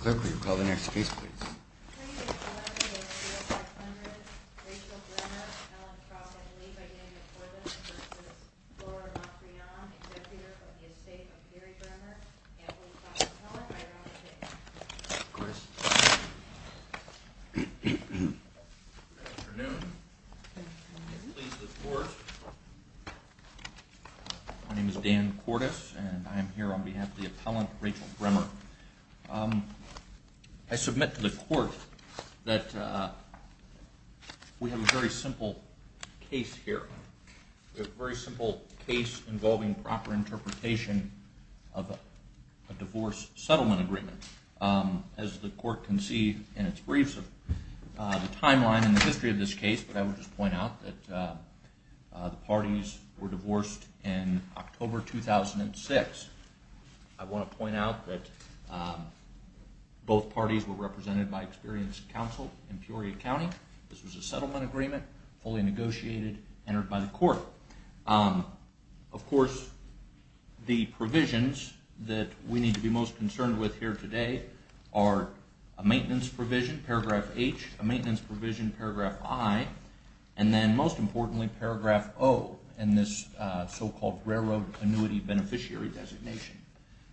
Clerk, will you call the next case, please? Chris Good afternoon May it please the Court My name is Dan Cordes and I am here on behalf of the appellant, Rachel Bremer I submit to the Court that we have a very simple case here We have a very simple case involving proper interpretation of a divorce settlement agreement As the Court can see in its briefs of the timeline and the history of this case I would just point out that the parties were divorced in October 2006 I want to point out that both parties were represented by experienced counsel in Peoria County This was a settlement agreement, fully negotiated, entered by the Court Of course, the provisions that we need to be most concerned with here today Are a maintenance provision, paragraph H, a maintenance provision, paragraph I And then most importantly, paragraph O in this so-called railroad annuity beneficiary designation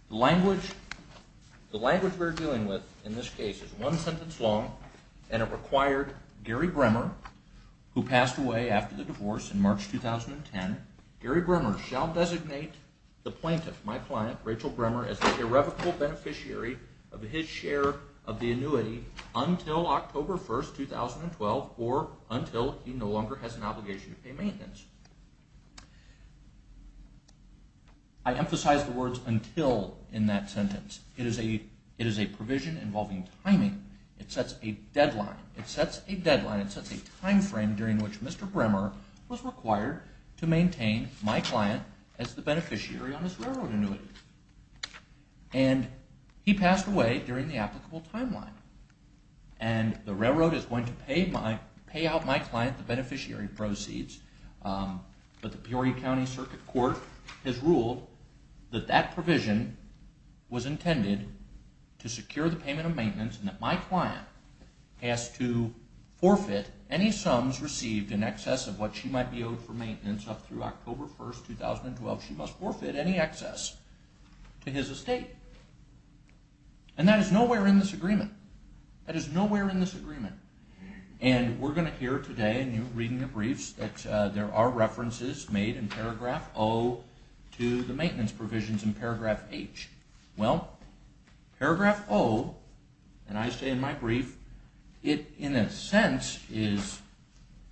The language we are dealing with in this case is one sentence long And it required Gary Bremer, who passed away after the divorce in March 2010 Gary Bremer shall designate the plaintiff, my client, Rachel Bremer, as an irrevocable beneficiary of his share of the annuity Until October 1, 2012 or until he no longer has an obligation to pay maintenance I emphasize the words until in that sentence It is a provision involving timing It sets a deadline, it sets a timeframe during which Mr. Bremer was required to maintain my client as the beneficiary on his railroad annuity And he passed away during the applicable timeline And the railroad is going to pay out my client the beneficiary proceeds But the Peoria County Circuit Court has ruled that that provision was intended to secure the payment of maintenance If my client has to forfeit any sums received in excess of what she might be owed for maintenance up through October 1, 2012 She must forfeit any excess to his estate And that is nowhere in this agreement That is nowhere in this agreement And we're going to hear today in your reading of briefs that there are references made in paragraph O to the maintenance provisions in paragraph H Well, paragraph O, and I say in my brief, it in a sense is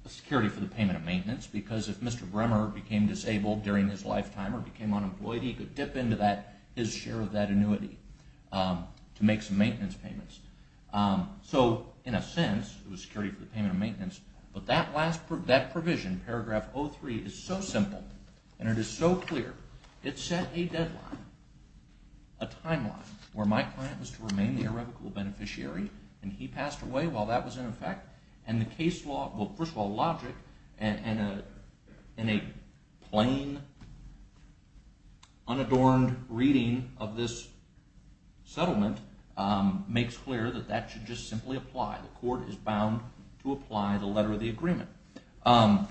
a security for the payment of maintenance Because if Mr. Bremer became disabled during his lifetime or became unemployed, he could dip into his share of that annuity to make some maintenance payments So, in a sense, it was security for the payment of maintenance But that provision, paragraph O3, is so simple and it is so clear It set a deadline, a timeline, where my client was to remain the irrevocable beneficiary And he passed away while that was in effect And the case law, well first of all logic, in a plain unadorned reading of this settlement Makes clear that that should just simply apply The court is bound to apply the letter of the agreement Mr.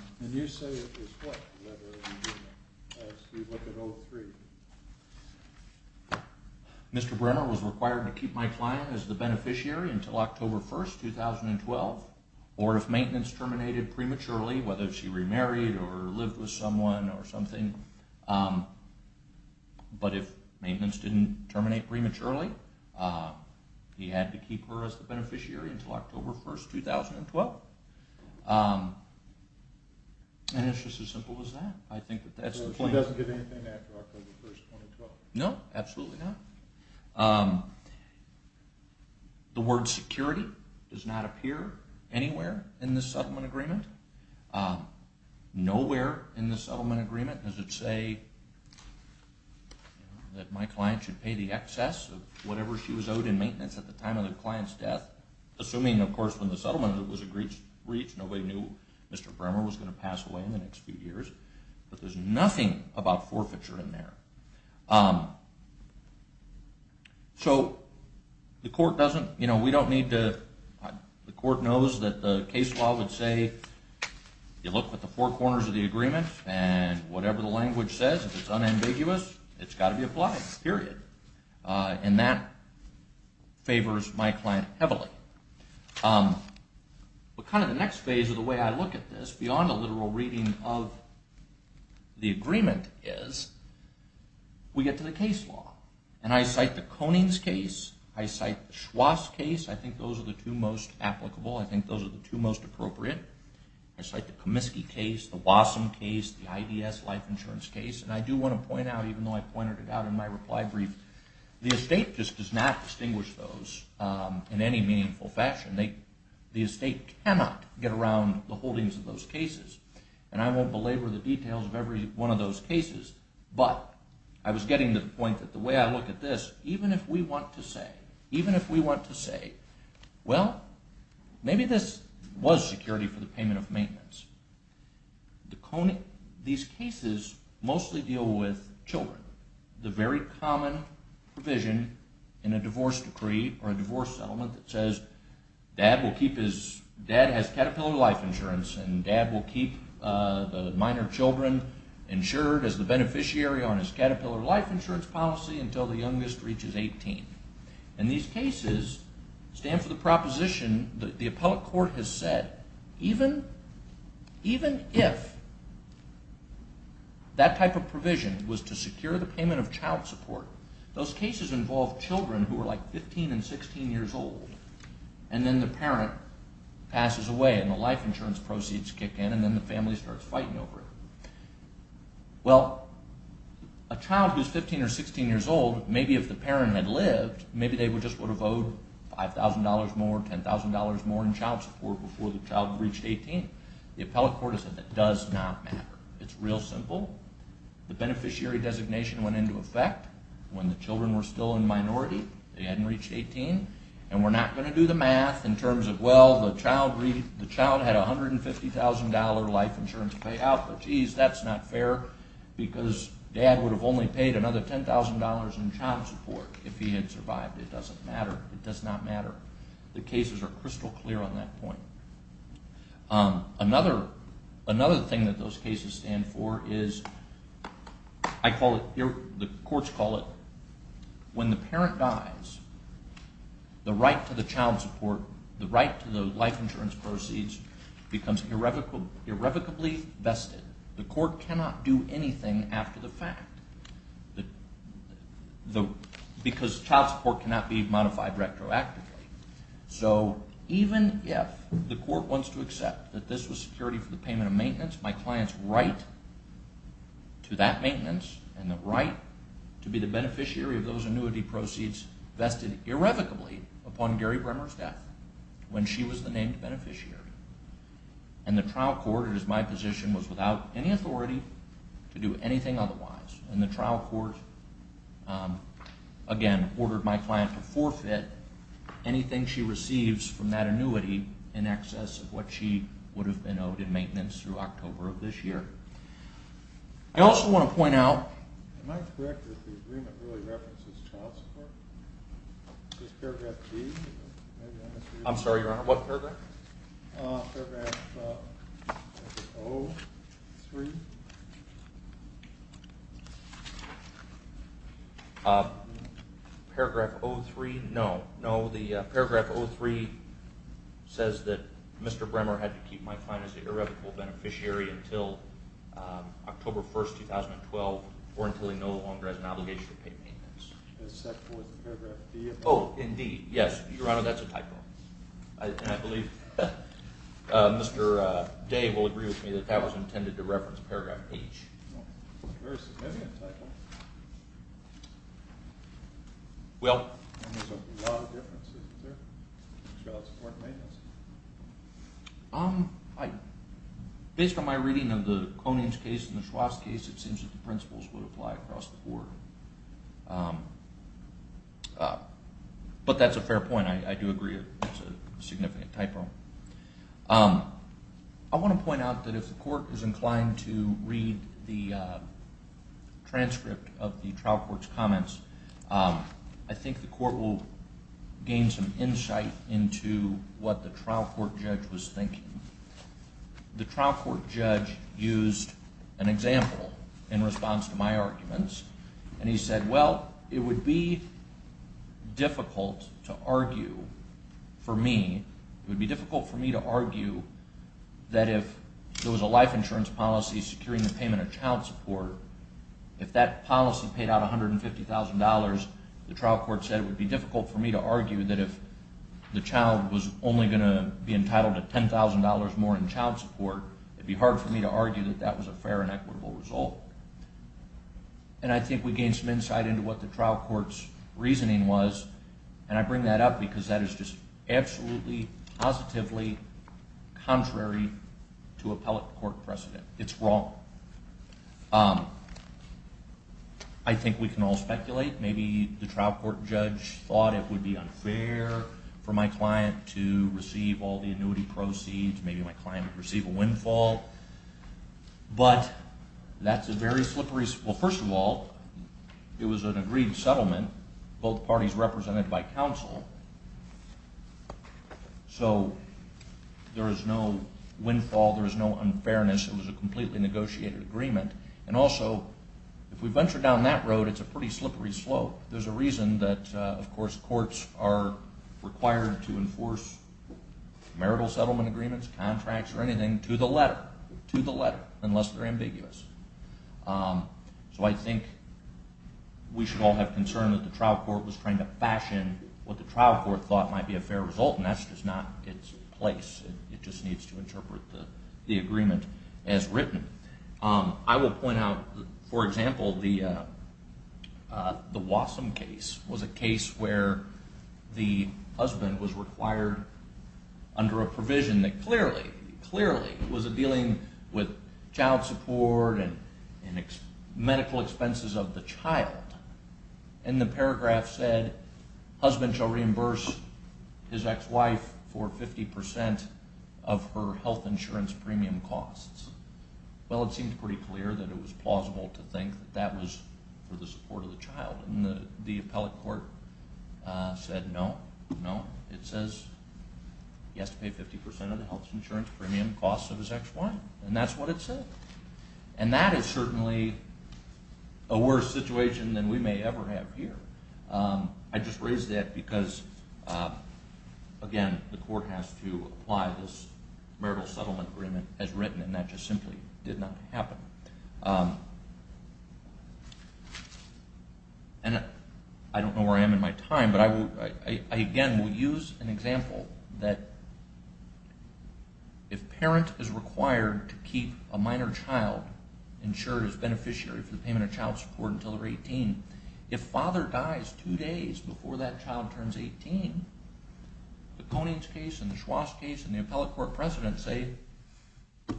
Bremer was required to keep my client as the beneficiary until October 1st, 2012 Or if maintenance terminated prematurely, whether she remarried or lived with someone or something But if maintenance didn't terminate prematurely, he had to keep her as the beneficiary until October 1st, 2012 And it's just as simple as that So she doesn't get anything after October 1st, 2012? No, absolutely not The word security does not appear anywhere in this settlement agreement Nowhere in this settlement agreement does it say that my client should pay the excess of whatever she was owed in maintenance at the time of the client's death Assuming of course when the settlement was reached, nobody knew Mr. Bremer was going to pass away in the next few years But there's nothing about forfeiture in there So the court knows that the case law would say, you look at the four corners of the agreement And whatever the language says, if it's unambiguous, it's got to be applied, period And that favors my client heavily But kind of the next phase of the way I look at this beyond a literal reading of the agreement is We get to the case law And I cite the Konings case, I cite the Schwarz case, I think those are the two most applicable I think those are the two most appropriate I cite the Comiskey case, the Wassum case, the IDS life insurance case And I do want to point out, even though I pointed it out in my reply brief The estate just does not distinguish those in any meaningful fashion The estate cannot get around the holdings of those cases And I won't belabor the details of every one of those cases But I was getting to the point that the way I look at this, even if we want to say These cases mostly deal with children The very common provision in a divorce decree or a divorce settlement that says Dad has Caterpillar life insurance and dad will keep the minor children insured as the beneficiary On his Caterpillar life insurance policy until the youngest reaches 18 And these cases stand for the proposition that the appellate court has said That even if that type of provision was to secure the payment of child support Those cases involve children who are like 15 and 16 years old And then the parent passes away and the life insurance proceeds kick in And then the family starts fighting over it Well, a child who is 15 or 16 years old, maybe if the parent had lived Maybe they just would have owed $5,000 more, $10,000 more in child support Before the child reached 18 The appellate court has said that does not matter It's real simple The beneficiary designation went into effect When the children were still in minority, they hadn't reached 18 And we're not going to do the math in terms of Well, the child had $150,000 life insurance payout But geez, that's not fair Because dad would have only paid another $10,000 in child support If he had survived It doesn't matter, it does not matter The cases are crystal clear on that point Another thing that those cases stand for is I call it, the courts call it When the parent dies, the right to the child support The right to the life insurance proceeds Becomes irrevocably vested The court cannot do anything after the fact Because child support cannot be modified retroactively So, even if the court wants to accept That this was security for the payment of maintenance My client's right to that maintenance And the right to be the beneficiary of those annuity proceeds Vested irrevocably upon Gary Bremmer's death When she was the named beneficiary And the trial court, it is my position Was without any authority to do anything otherwise And the trial court, again, ordered my client to forfeit Anything she receives from that annuity In excess of what she would have been owed in maintenance Through October of this year I also want to point out Am I correct that the agreement really references child support? Is this paragraph G? I'm sorry, Your Honor, what paragraph? Paragraph O-3 Paragraph O-3, no No, the paragraph O-3 says that Mr. Bremmer had to keep my client as an irrevocable beneficiary Until October 1st, 2012 Or until he no longer has an obligation to pay maintenance The second was paragraph D Oh, in D, yes, Your Honor, that's a typo And I believe Mr. Day will agree with me That that was intended to reference paragraph H Very significant typo Well There's a lot of differences, isn't there? Child support and maintenance Based on my reading of the Koning's case and the Schwab's case It seems that the principles would apply across the board But that's a fair point, I do agree It's a significant typo I want to point out that if the court is inclined to read The transcript of the trial court's comments I think the court will gain some insight Into what the trial court judge was thinking The trial court judge used an example In response to my arguments And he said, well, it would be difficult to argue For me It would be difficult for me to argue That if there was a life insurance policy Securing the payment of child support If that policy paid out $150,000 The trial court said it would be difficult for me to argue That if the child was only going to be entitled To $10,000 more in child support It would be hard for me to argue That that was a fair and equitable result And I think we gained some insight Into what the trial court's reasoning was And I bring that up because That is just absolutely, positively Contrary to appellate court precedent It's wrong I think we can all speculate Maybe the trial court judge Thought it would be unfair For my client to receive all the annuity proceeds Maybe my client would receive a windfall But that's a very slippery Well, first of all It was an agreed settlement Both parties represented by counsel So There is no windfall There is no unfairness It was a completely negotiated agreement And also, if we venture down that road It's a pretty slippery slope There's a reason that, of course, courts Are required to enforce Marital settlement agreements Contracts or anything To the letter, to the letter Unless they're ambiguous So I think The trial court was trying to fashion What the trial court thought Might be a fair result And that's just not its place It just needs to interpret The agreement as written I will point out, for example The Wassum case Was a case where The husband was required Under a provision that clearly Clearly Was dealing with child support And medical expenses of the child And the paragraph said Husband shall reimburse His ex-wife for 50% Of her health insurance premium costs Well, it seemed pretty clear That it was plausible to think That that was for the support of the child And the appellate court Said no, no It says He has to pay 50% of the health insurance Premium costs of his ex-wife And that's what it said And that is certainly More plausible than We may ever have here I just raise that because Again, the court has to Apply this Marital settlement agreement As written and that just simply Did not happen And I don't know where I am In my time But I, again, will use An example that If parent is required To keep a minor child Insured as beneficiary If father dies Two days before that child turns 18 The Konings case And the Schwast case And the appellate court precedents say The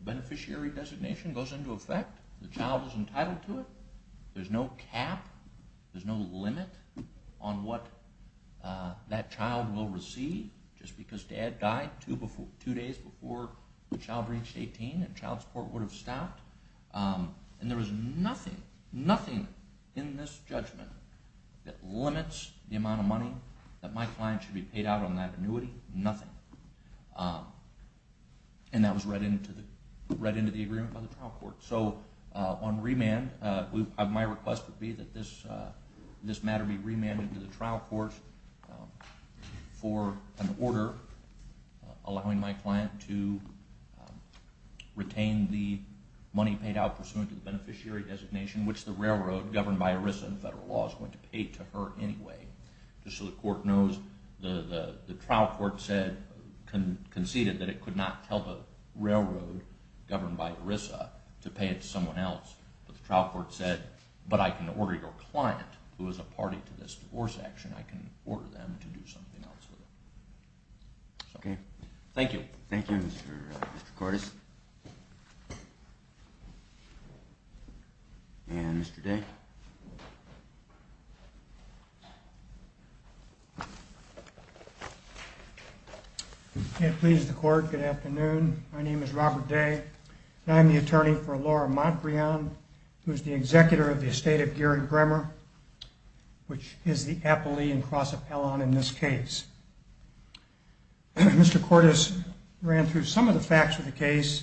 beneficiary designation Goes into effect The child is entitled to it There's no cap There's no limit On what that child will receive Just because dad died Two days before the child reached 18 And child support would have stopped And there was nothing In this judgment That limits the amount of money That my client should be paid out On that annuity Nothing And that was read into The agreement by the trial court So on remand My request would be That this matter be remanded To the trial court For an order Allowing my client to Retain the money paid out Pursuant to the beneficiary designation Which by ERISA and federal laws Is going to pay to her anyway Just so the court knows The trial court said Conceded that it could not Help a railroad Governed by ERISA To pay it to someone else But the trial court said But I can order your client Who is a party to this divorce action I can order them to do something else Thank you Thank you Mr. Cordes And Mr. Day May it please the court Good afternoon My name is Robert Day And I am the attorney For Laura Montbriand Who is the executor Of the estate of Gerard Gremmer Which is the appellee And cross appellant in this case Mr. Cordes ran through Some of the facts of the case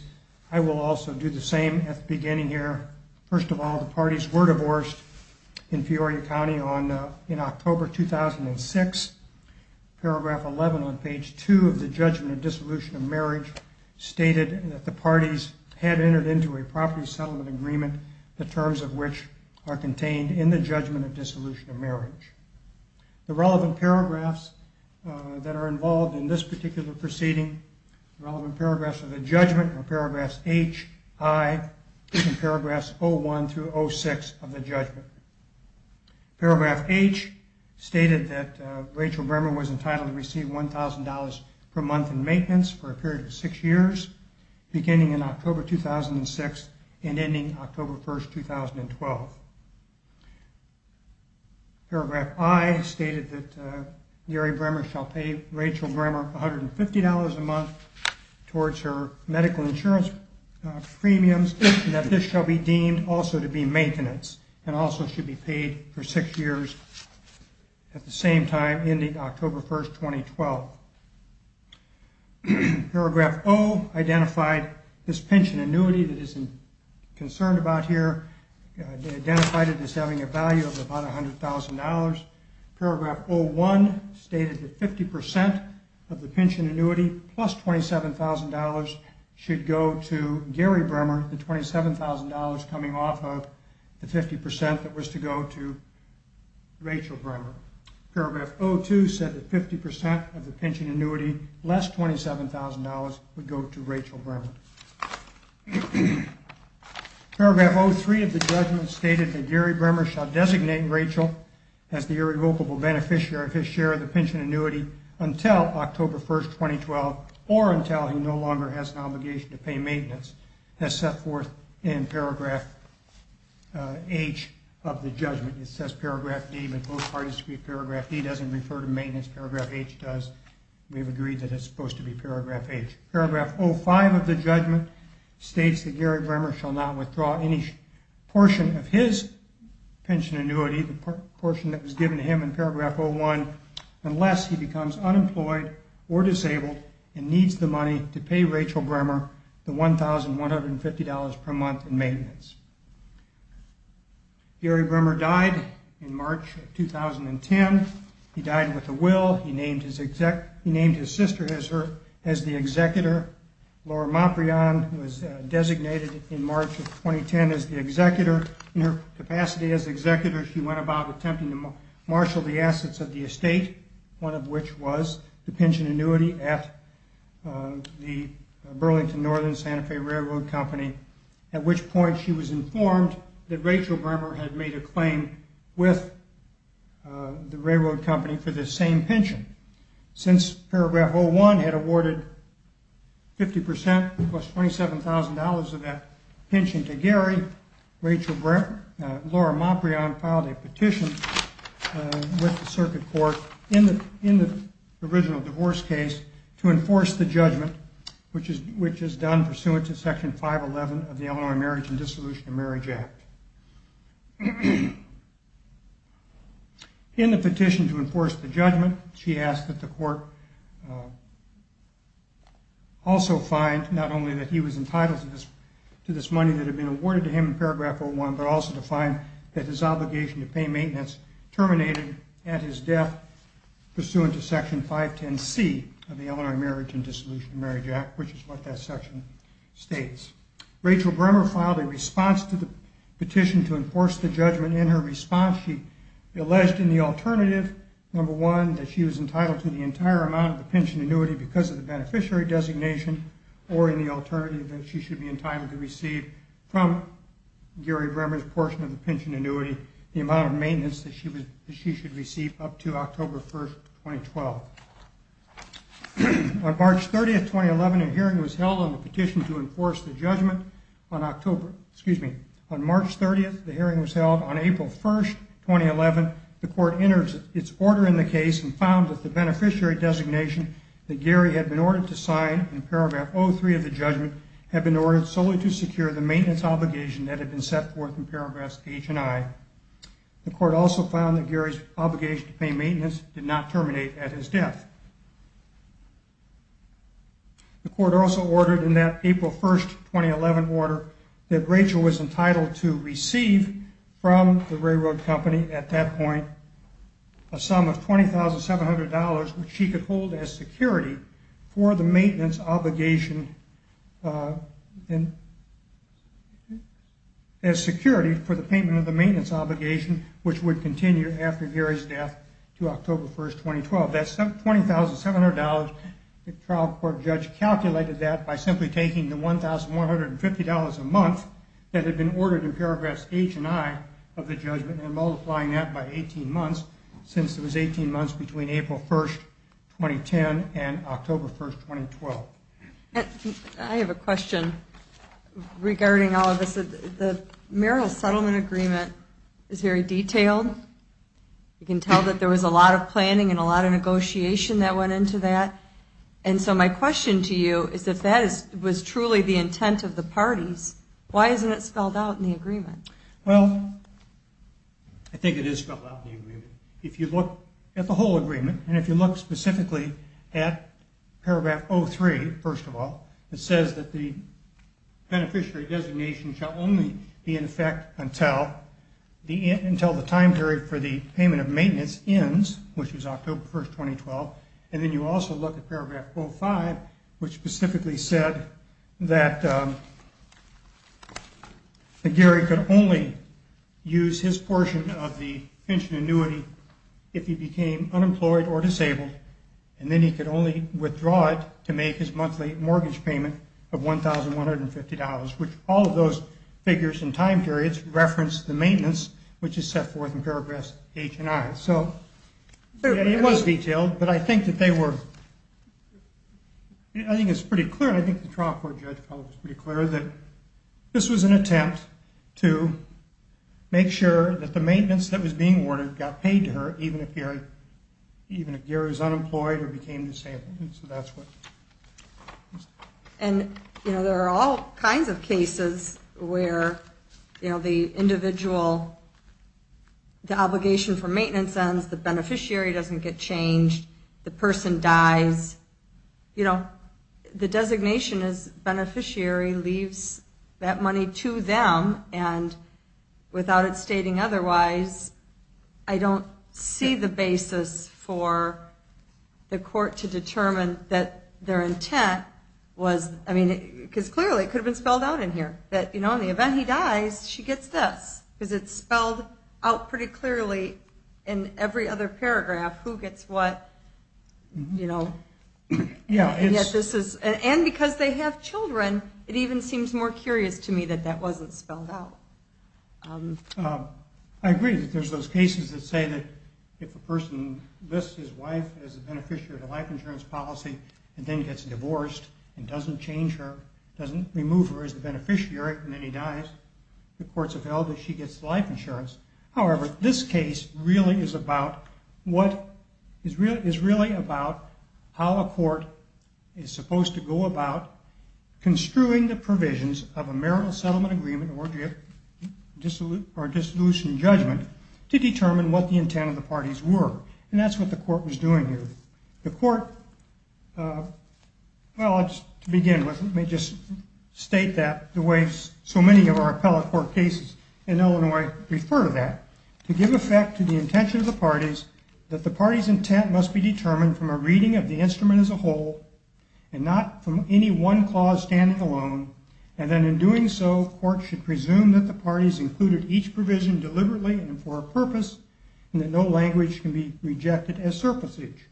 I will also do the same At the beginning here First of all the parties Were divorced in Peoria County In October 2006 Paragraph 11 on page 2 Of the judgment of Dissolution of marriage Stated that the parties Had entered into a property Settlement agreement The terms of which are Contained in the judgment Of dissolution of marriage Paragraphs of the judgment Are paragraphs H, I And paragraphs 01-06 Of the judgment Paragraph H Stated that Rachel Gremmer Was entitled to receive $1,000 per month in maintenance For a period of 6 years Beginning in October 2006 And ending October 1, 2012 Paragraph I Stated that Gary Gremmer Shall pay Rachel Gremmer $150 a month Towards her medical insurance Premiums And that this shall be deemed Also to be maintenance And also should be paid For 6 years At the same time Ending October 1, 2012 Paragraph O Identified this pension annuity That is concerned about here Identified it as having a value Of about $100,000 Paragraph 01 Stated that the pension annuity Plus $27,000 Should go to Gary Gremmer The $27,000 coming off of The 50% that was to go to Rachel Gremmer Paragraph 02 Said that 50% of the pension annuity Less $27,000 Would go to Rachel Gremmer Paragraph 03 Of the judgment Stated that Gary Gremmer Shall designate Rachel As the irrevocable beneficiary Of his share of the pension annuity Until October 1, 2012 Or until he no longer Has an obligation to pay maintenance As set forth in Paragraph H Of the judgment It says Paragraph D But both parties agree Paragraph D Doesn't refer to maintenance Paragraph H does We've agreed that it's supposed to be Paragraph H Paragraph 05 of the judgment States that Gary Gremmer Shall not withdraw any portion That was given to him in Paragraph 01 Unless he becomes unemployed Or disabled And needs the money To pay Rachel Gremmer The $1,150 per month in maintenance Gary Gremmer died In March of 2010 He died with a will He named his sister As the executor Laura Maprian Was designated in March of 2010 As the executor In her capacity as executor Attempting to marshal The assets of the estate One of which was The pension annuity At the Burlington Northern Santa Fe Railroad Company At which point she was informed That Rachel Gremmer had made a claim With the railroad company For this same pension Since Paragraph 01 Had awarded 50% Plus $27,000 Of that pension to Gary Laura Maprian Went to circuit court In the original divorce case To enforce the judgment Which is done Pursuant to Section 511 Of the Illinois Marriage And Dissolution of Marriage Act In the petition To enforce the judgment She asked that the court Also find Not only that he was entitled To this money that had been Awarded to him in Paragraph 01 But also to find That he was terminated At his death Pursuant to Section 510C Of the Illinois Marriage And Dissolution of Marriage Act Which is what that section states Rachel Gremmer filed a response To the petition to enforce the judgment In her response she alleged In the alternative Number one that she was entitled To the entire amount of the pension annuity Because of the beneficiary designation Or in the alternative That she should be entitled to receive That she should receive Up to October 1st, 2012 On March 30th, 2011 A hearing was held On the petition to enforce the judgment On October, excuse me On March 30th the hearing was held On April 1st, 2011 The court entered its order in the case And found that the beneficiary designation That Gary had been ordered to sign In Paragraph 03 of the judgment Had been ordered solely to secure The maintenance obligation That had been set forth in Paragraphs H and I And found that Gary's obligation To pay maintenance Did not terminate at his death The court also ordered In that April 1st, 2011 order That Rachel was entitled To receive from the railroad company At that point A sum of $20,700 Which she could hold as security For the maintenance obligation As security For the payment of the maintenance obligation Which would continue After Gary's death To October 1st, 2012 That $20,700 The trial court judge calculated that By simply taking the $1,150 a month That had been ordered In Paragraphs H and I Of the judgment And multiplying that by 18 months Since it was 18 months Between April 1st, 2010 And October 1st, 2012 I have a question Regarding all of this It's very detailed You can tell that there was A lot of planning And a lot of negotiation That went into that And so my question to you Is if that was truly The intent of the parties Why isn't it spelled out In the agreement Well, I think it is spelled out In the agreement If you look at the whole agreement And if you look specifically At Paragraph 03, first of all You can tell the time period For the payment of maintenance ends Which was October 1st, 2012 And then you also look At Paragraph 05 Which specifically said That Gary could only Use his portion Of the pension annuity If he became unemployed Or disabled And then he could only Withdraw it to make His monthly mortgage payment Of $1,150 And so forth in Paragraphs H and I It was detailed But I think that they were I think it's pretty clear And I think the trial court Judge felt it was pretty clear That this was an attempt To make sure that the Maintenance that was being Ordered got paid to her Even if Gary was unemployed Or became disabled And there are all kinds Of cases where The obligation for maintenance Ends, the beneficiary Doesn't get changed The person dies You know, the designation Is beneficiary leaves That money to them And without it stating otherwise I don't see the basis For the court to determine That their intent Was, I mean Because clearly it could Have been spelled out in here That in the event he dies It's spelled out pretty clearly In every other paragraph Who gets what You know And because they have children It even seems more curious To me that that wasn't Spelled out I agree that there's those Cases that say that If a person lists his wife As a beneficiary of a Life insurance policy And then gets divorced And doesn't remove her From her life insurance This case really is about What is really about How a court Is supposed to go about Construing the provisions Of a marital settlement agreement Or a dissolution judgment To determine what the Intent of the parties were And that's what the court Was doing here The court, well to begin with Let me just state that The way so many of our Laws are written Is to give effect To the intention of the parties That the parties intent Must be determined from a Reading of the instrument as a Whole and not from any one Clause standing alone And then in doing so Courts should presume that the Parties included each provision Deliberately and for a purpose And that no language can be Rejected as surplusage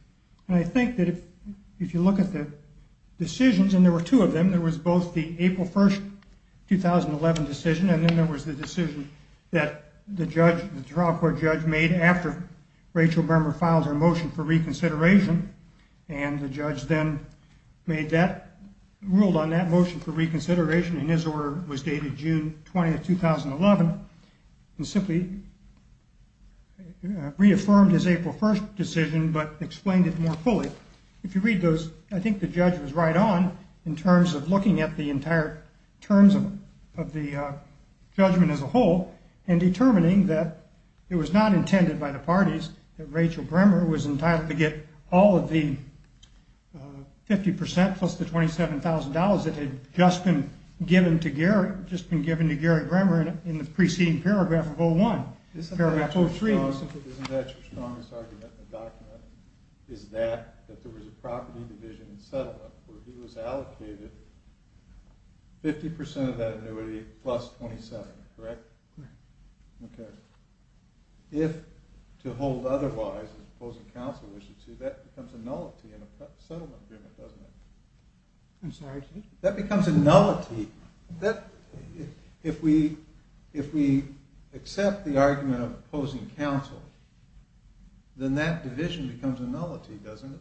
And I think that if you look At the decision that the Supreme Court judge made After Rachel Burmer filed Her motion for reconsideration And the judge then Made that, ruled on that Motion for reconsideration And his order was dated June 20th, 2011 And simply Reaffirmed his April 1st Decision but explained it More fully If you read those I think the judge was right It was not intended by the Parties that Rachel Burmer Was entitled to get All of the 50% plus The $27,000 that had Just been given to Gary Burmer in the preceding Paragraph of 01 Paragraph 03 Isn't that your strongest Argument in the document Is that there was a Property division settlement Where he was allocated 50% of that annuity If to hold otherwise As opposing counsel That becomes a nullity In a settlement agreement Doesn't it? I'm sorry? That becomes a nullity If we accept the argument Of opposing counsel Then that division becomes A nullity, doesn't it?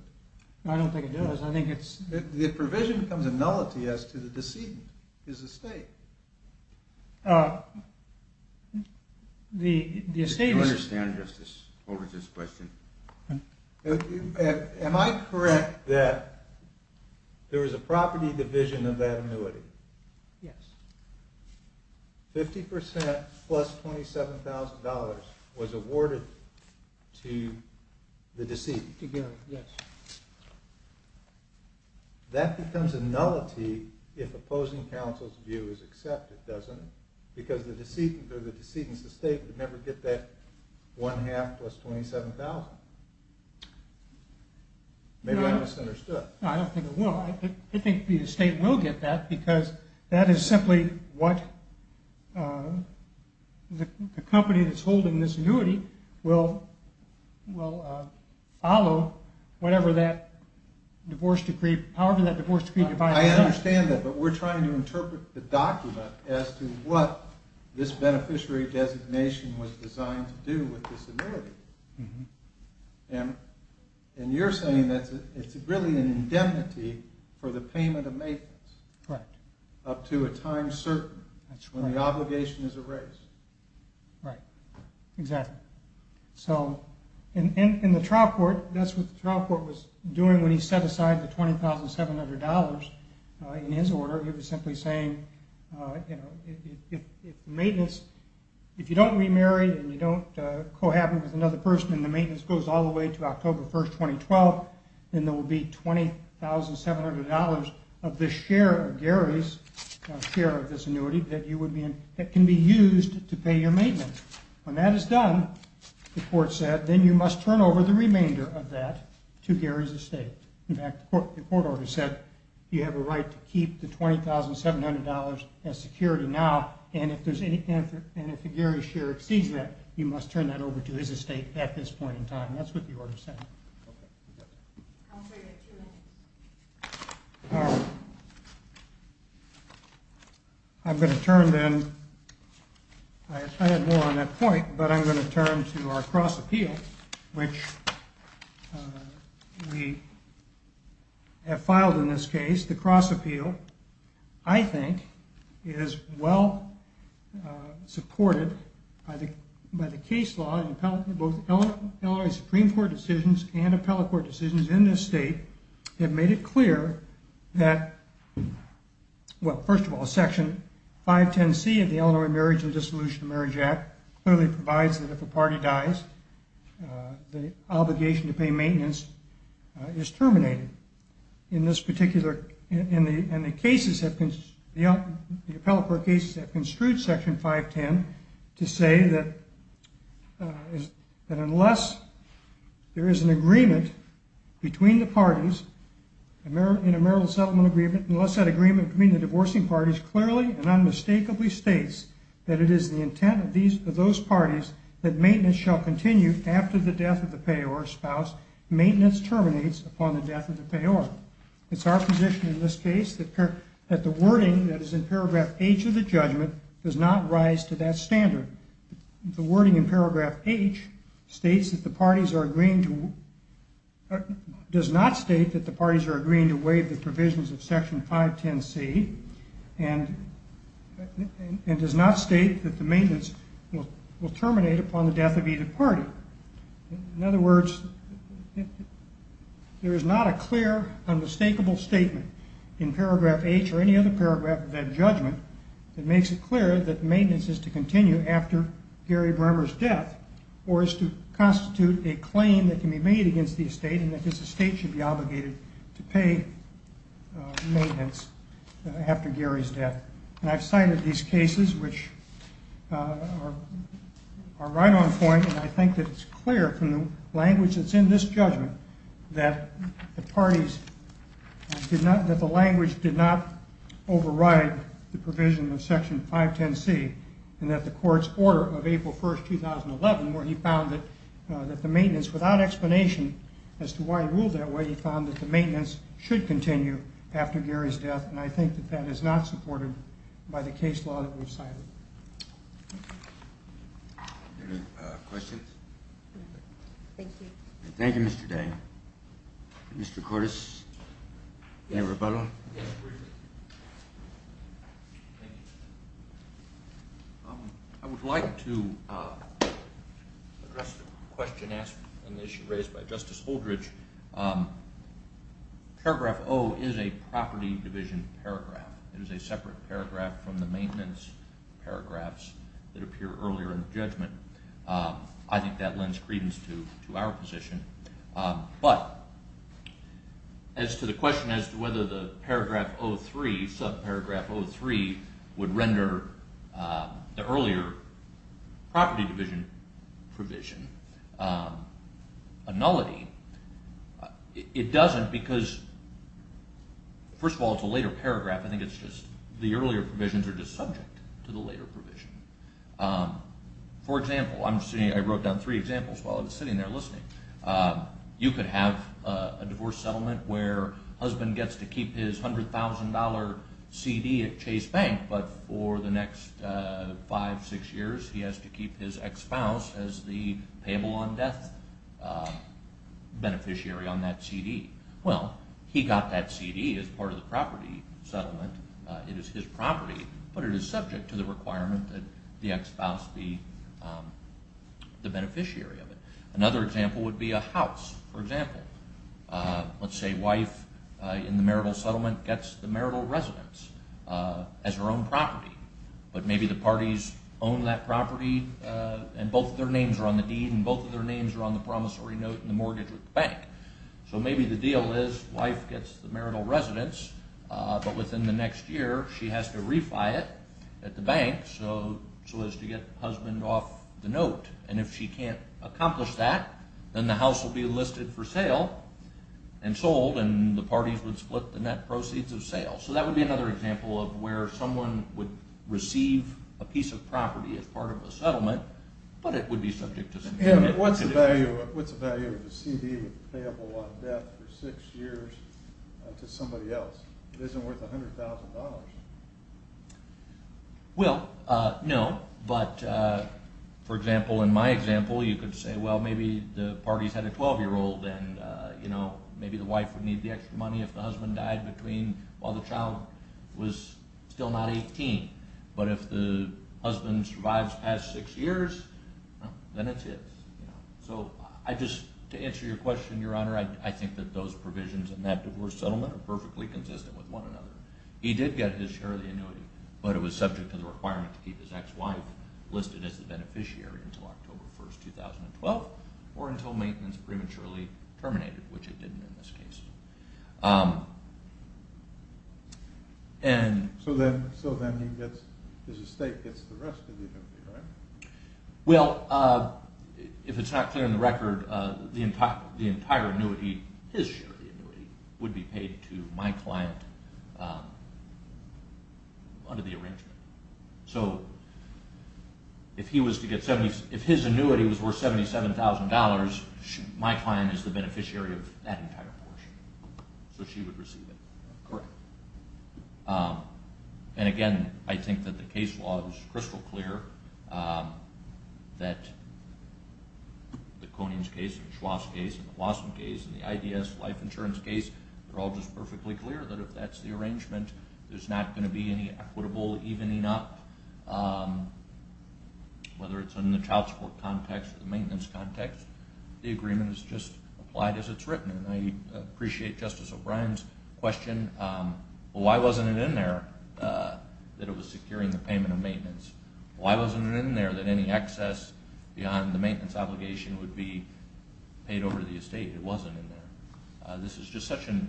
I don't think it does The provision becomes A nullity as to the Decedent, his estate I don't understand Over this question Am I correct that There was a property Division of that annuity Yes 50% plus $27,000 Was awarded to The decedent Yes That becomes a nullity If opposing counsel's View is accepted, doesn't it? Because the decedent Was awarded 1 half plus $27,000 Maybe I misunderstood I don't think it will I think the estate will get that Because that is simply What the company That's holding this annuity Will follow Whatever that Divorce decree However that divorce decree I understand that But we're trying to interpret The document as to what Happens with this annuity And you're saying That it's really an indemnity For the payment of maintenance Correct Up to a time certain When the obligation is erased Right, exactly So in the trial court That's what the trial court The $20,700 In his order He was simply saying If the maintenance Co-happens with another person And the maintenance goes all the way To October 1, 2012 Then there will be $20,700 Of this share Of Gary's share of this annuity That can be used To pay your maintenance When that is done The court said Then you must turn over The remainder of that To Gary's estate In fact the court order said You have a right to keep The remainder of that To his estate At this point in time That's what the order said I'm going to turn then I had more on that point But I'm going to turn To our cross appeal Which We Have filed in this case The cross appeal I think Is well Supported By both Illinois Supreme Court decisions And appellate court decisions In this state That made it clear That Well first of all Section 510C of the Illinois Marriage And Dissolution of Marriage Act Clearly provides that if a party dies The obligation to pay maintenance Is terminated In this particular In the cases The appellate court cases That construed section 510 To say that That unless There is an agreement Between the parties In a marital settlement agreement Unless that agreement between the divorcing parties Clearly and unmistakably states That it is the intent Of those parties That maintenance shall continue After the death of the payor spouse Maintenance terminates upon the death of the payor It's our position in this case That the wording Of that judgment Does not rise to that standard The wording in paragraph H States that the parties are agreeing to Does not state That the parties are agreeing to waive The provisions of section 510C And And does not state That the maintenance Will terminate upon the death of either party In other words There is not a clear Unmistakable statement In paragraph H That it is clear That maintenance is to continue After Gary Bremmer's death Or is to constitute a claim That can be made against the estate And that this estate should be obligated To pay maintenance After Gary's death And I've cited these cases Which are Are right on point And I think that it's clear From the language that's in this judgment That the parties That the language did not Refer to Section 510C And that the court's order Of April 1st, 2011 Where he found that That the maintenance Without explanation As to why he ruled that way He found that the maintenance Should continue After Gary's death And I think that that is not supported By the case law that we've cited Any questions? Thank you I would like to Address the question Raised by Justice Holdridge Paragraph O Is a property division paragraph It is a separate paragraph From the maintenance paragraphs That appear earlier in the judgment I think that lends credence To our position But As to the question As to whether the paragraph O3 Subparagraph O3 Would render The earlier Property division Provision A nullity It doesn't because First of all it's a later paragraph I think it's just The earlier provisions are just subject To the later provision For example I wrote down three examples While I was sitting there listening You could have a divorce settlement Where husband gets to keep Not tonight But for the next Five, six years He has to keep his ex-spouse As the payable on death Beneficiary on that CD Well, he got that CD As part of the property settlement It is his property But it is subject to the requirement That the ex-spouse be The beneficiary of it Another example would be a house For example Let's say wife Owns her own property But maybe the parties Own that property And both of their names Are on the deed And both of their names Are on the promissory note And the mortgage with the bank So maybe the deal is Wife gets the marital residence But within the next year She has to refi it At the bank So as to get husband off the note And if she can't accomplish that The husband would receive A piece of property As part of a settlement But it would be subject to What's the value of a CD Payable on death for six years To somebody else It isn't worth $100,000 Well, no But for example In my example You could say Well, maybe the parties Had a 12-year-old And maybe the wife Had a 16 But if the husband survives Past six years Then it's his So I just To answer your question, your honor I think that those provisions In that divorce settlement Are perfectly consistent With one another He did get his share of the annuity But it was subject to the requirement To keep his ex-wife listed As the beneficiary Until October 1, 2012 And then his estate Gets the rest of the annuity, right? Well If it's not clear in the record The entire annuity His share of the annuity Would be paid to my client Under the arrangement So If his annuity Was worth $77,000 My client is the beneficiary Of that entire portion So she would receive it Correct And I think that the case law Is crystal clear That The Konings case And the Schwass case And the Blossom case And the IDS life insurance case Are all just perfectly clear That if that's the arrangement There's not going to be any Equitable evening up Whether it's in the child support context Or the maintenance context The agreement is just Applied as it's written It was securing the payment Of maintenance Why wasn't it in there That any excess Beyond the maintenance obligation Would be paid over to the estate It wasn't in there This is just such a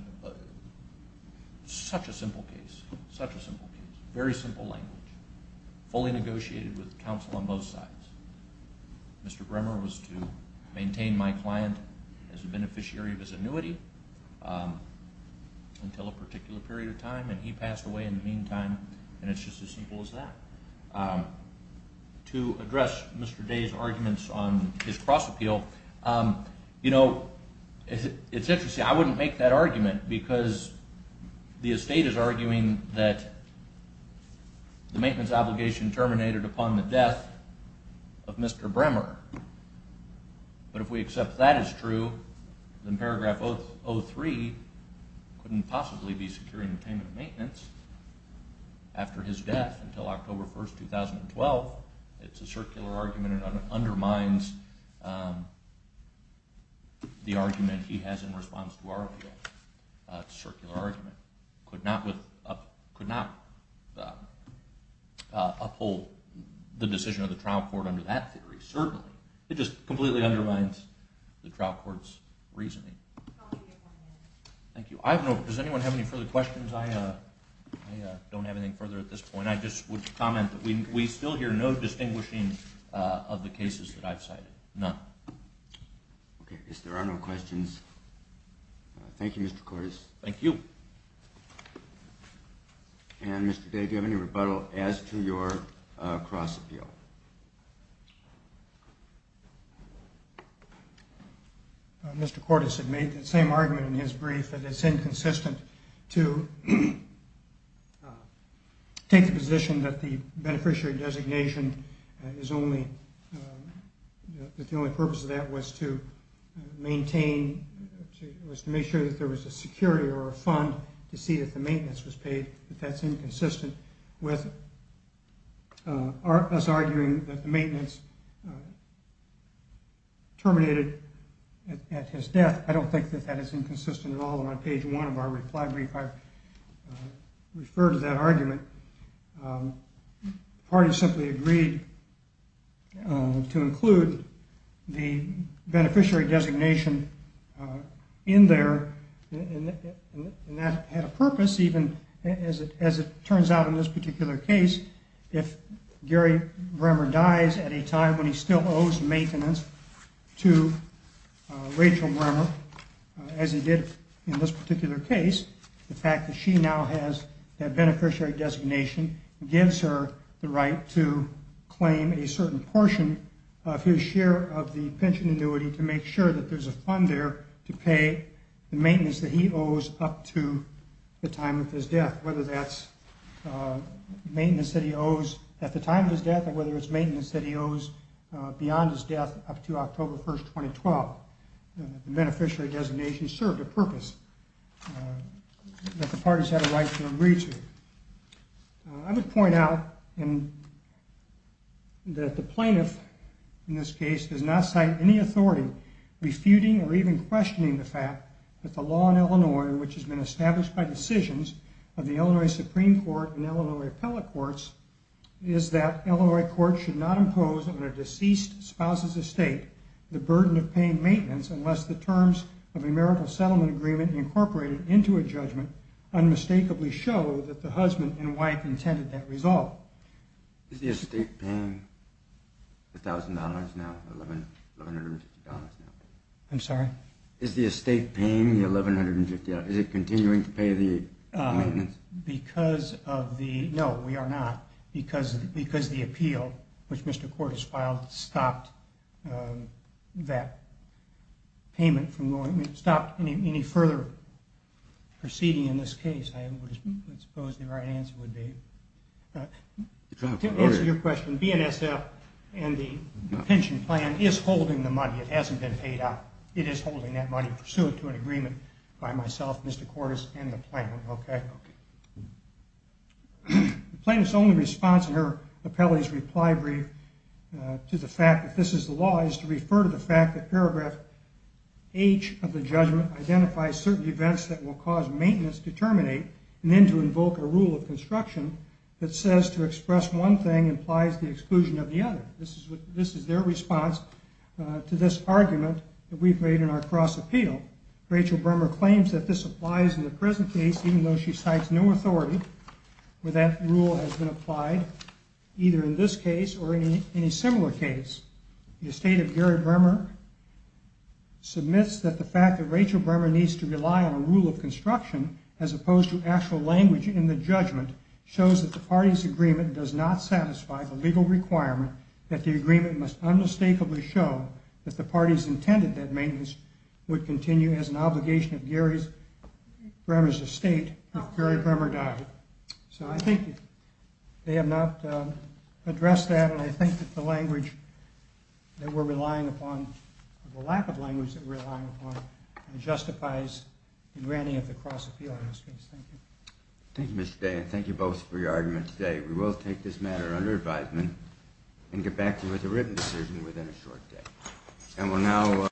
Such a simple case Such a simple case Very simple language Fully negotiated with counsel On both sides Mr. Bremer was to Maintain my client It's as simple as that To address Mr. Day's arguments On his cross appeal You know It's interesting I wouldn't make that argument Because the estate is arguing That the maintenance obligation Terminated upon the death Of Mr. Bremer But if we accept that as true Then paragraph 03 Couldn't possibly be Securing the payment of maintenance Upon his death Until October 1, 2012 It's a circular argument It undermines The argument he has In response to our appeal It's a circular argument Could not Uphold The decision of the trial court Under that theory Certainly It just completely undermines The trial court's reasoning Thank you I just would comment We still hear no distinguishing Of the cases that I've cited None If there are no questions Thank you Mr. Cordes Thank you And Mr. Day Do you have any rebuttal As to your cross appeal Mr. Cordes had made The same argument in his brief That it's inconsistent To Take the position that the Beneficiary designation Is only That the only purpose of that Was to maintain Was to make sure that there was A security or a fund To see if the maintenance was paid But that's inconsistent With us arguing That the maintenance Terminated At his death I don't think that that is Inconsistent at all And on page one of our reply brief I refer to that argument The party simply agreed To include The beneficiary designation In there And that Had a purpose Even as it turns out In this particular case If Gary Bremer dies At a time when he still owes Maintenance As he did In this particular case The fact that she now has That beneficiary designation Gives her the right to Claim a certain portion Of his share of the pension annuity To make sure that there's a fund there To pay The maintenance that he owes Up to the time of his death Whether that's Maintenance that he owes At the time of his death Or whether it's maintenance That the beneficiary designation Served a purpose That the parties had a right To agree to I would point out That the plaintiff In this case Does not cite any authority Refuting or even questioning The fact that the law in Illinois Which has been established by decisions Of the Illinois Supreme Court And Illinois Appellate Courts Is that Illinois courts Should not impose A judgment of a marital Settlement agreement Incorporated into a judgment Unmistakably show That the husband and wife Intended that result Is the estate paying The $1,000 now $1,150 now I'm sorry Is the estate paying the $1,150 Is it continuing to pay The maintenance Because of the No we are not Stopped any further Proceeding in this case I suppose the right answer Would be To answer your question BNSF and the pension plan Is holding the money It hasn't been paid out It is holding that money Pursuant to an agreement By myself, Mr. Cordes, and the plaintiff The plaintiff's only response In her appellate's reply brief To the fact that this is the law Is to refer to the fact That the judgment Identifies certain events That will cause maintenance To terminate And then to invoke a rule Of construction That says to express one thing Implies the exclusion of the other This is their response To this argument That we've made in our cross appeal Rachel Bremer claims that this applies In the present case Even though she cites no authority Where that rule has been applied The fact that Rachel Bremer Needs to rely on a rule of construction As opposed to actual language In the judgment Shows that the party's agreement Does not satisfy the legal requirement That the agreement must Unmistakably show that the party's Intended that maintenance Would continue as an obligation Of Gary Bremer's estate If Gary Bremer died So I think they have not Addressed that And I think that the language Justifies the granting Of the cross appeal Thank you Thank you Mr. Day And thank you both for your arguments today We will take this matter under advisement And get back to you with a written decision Within a short day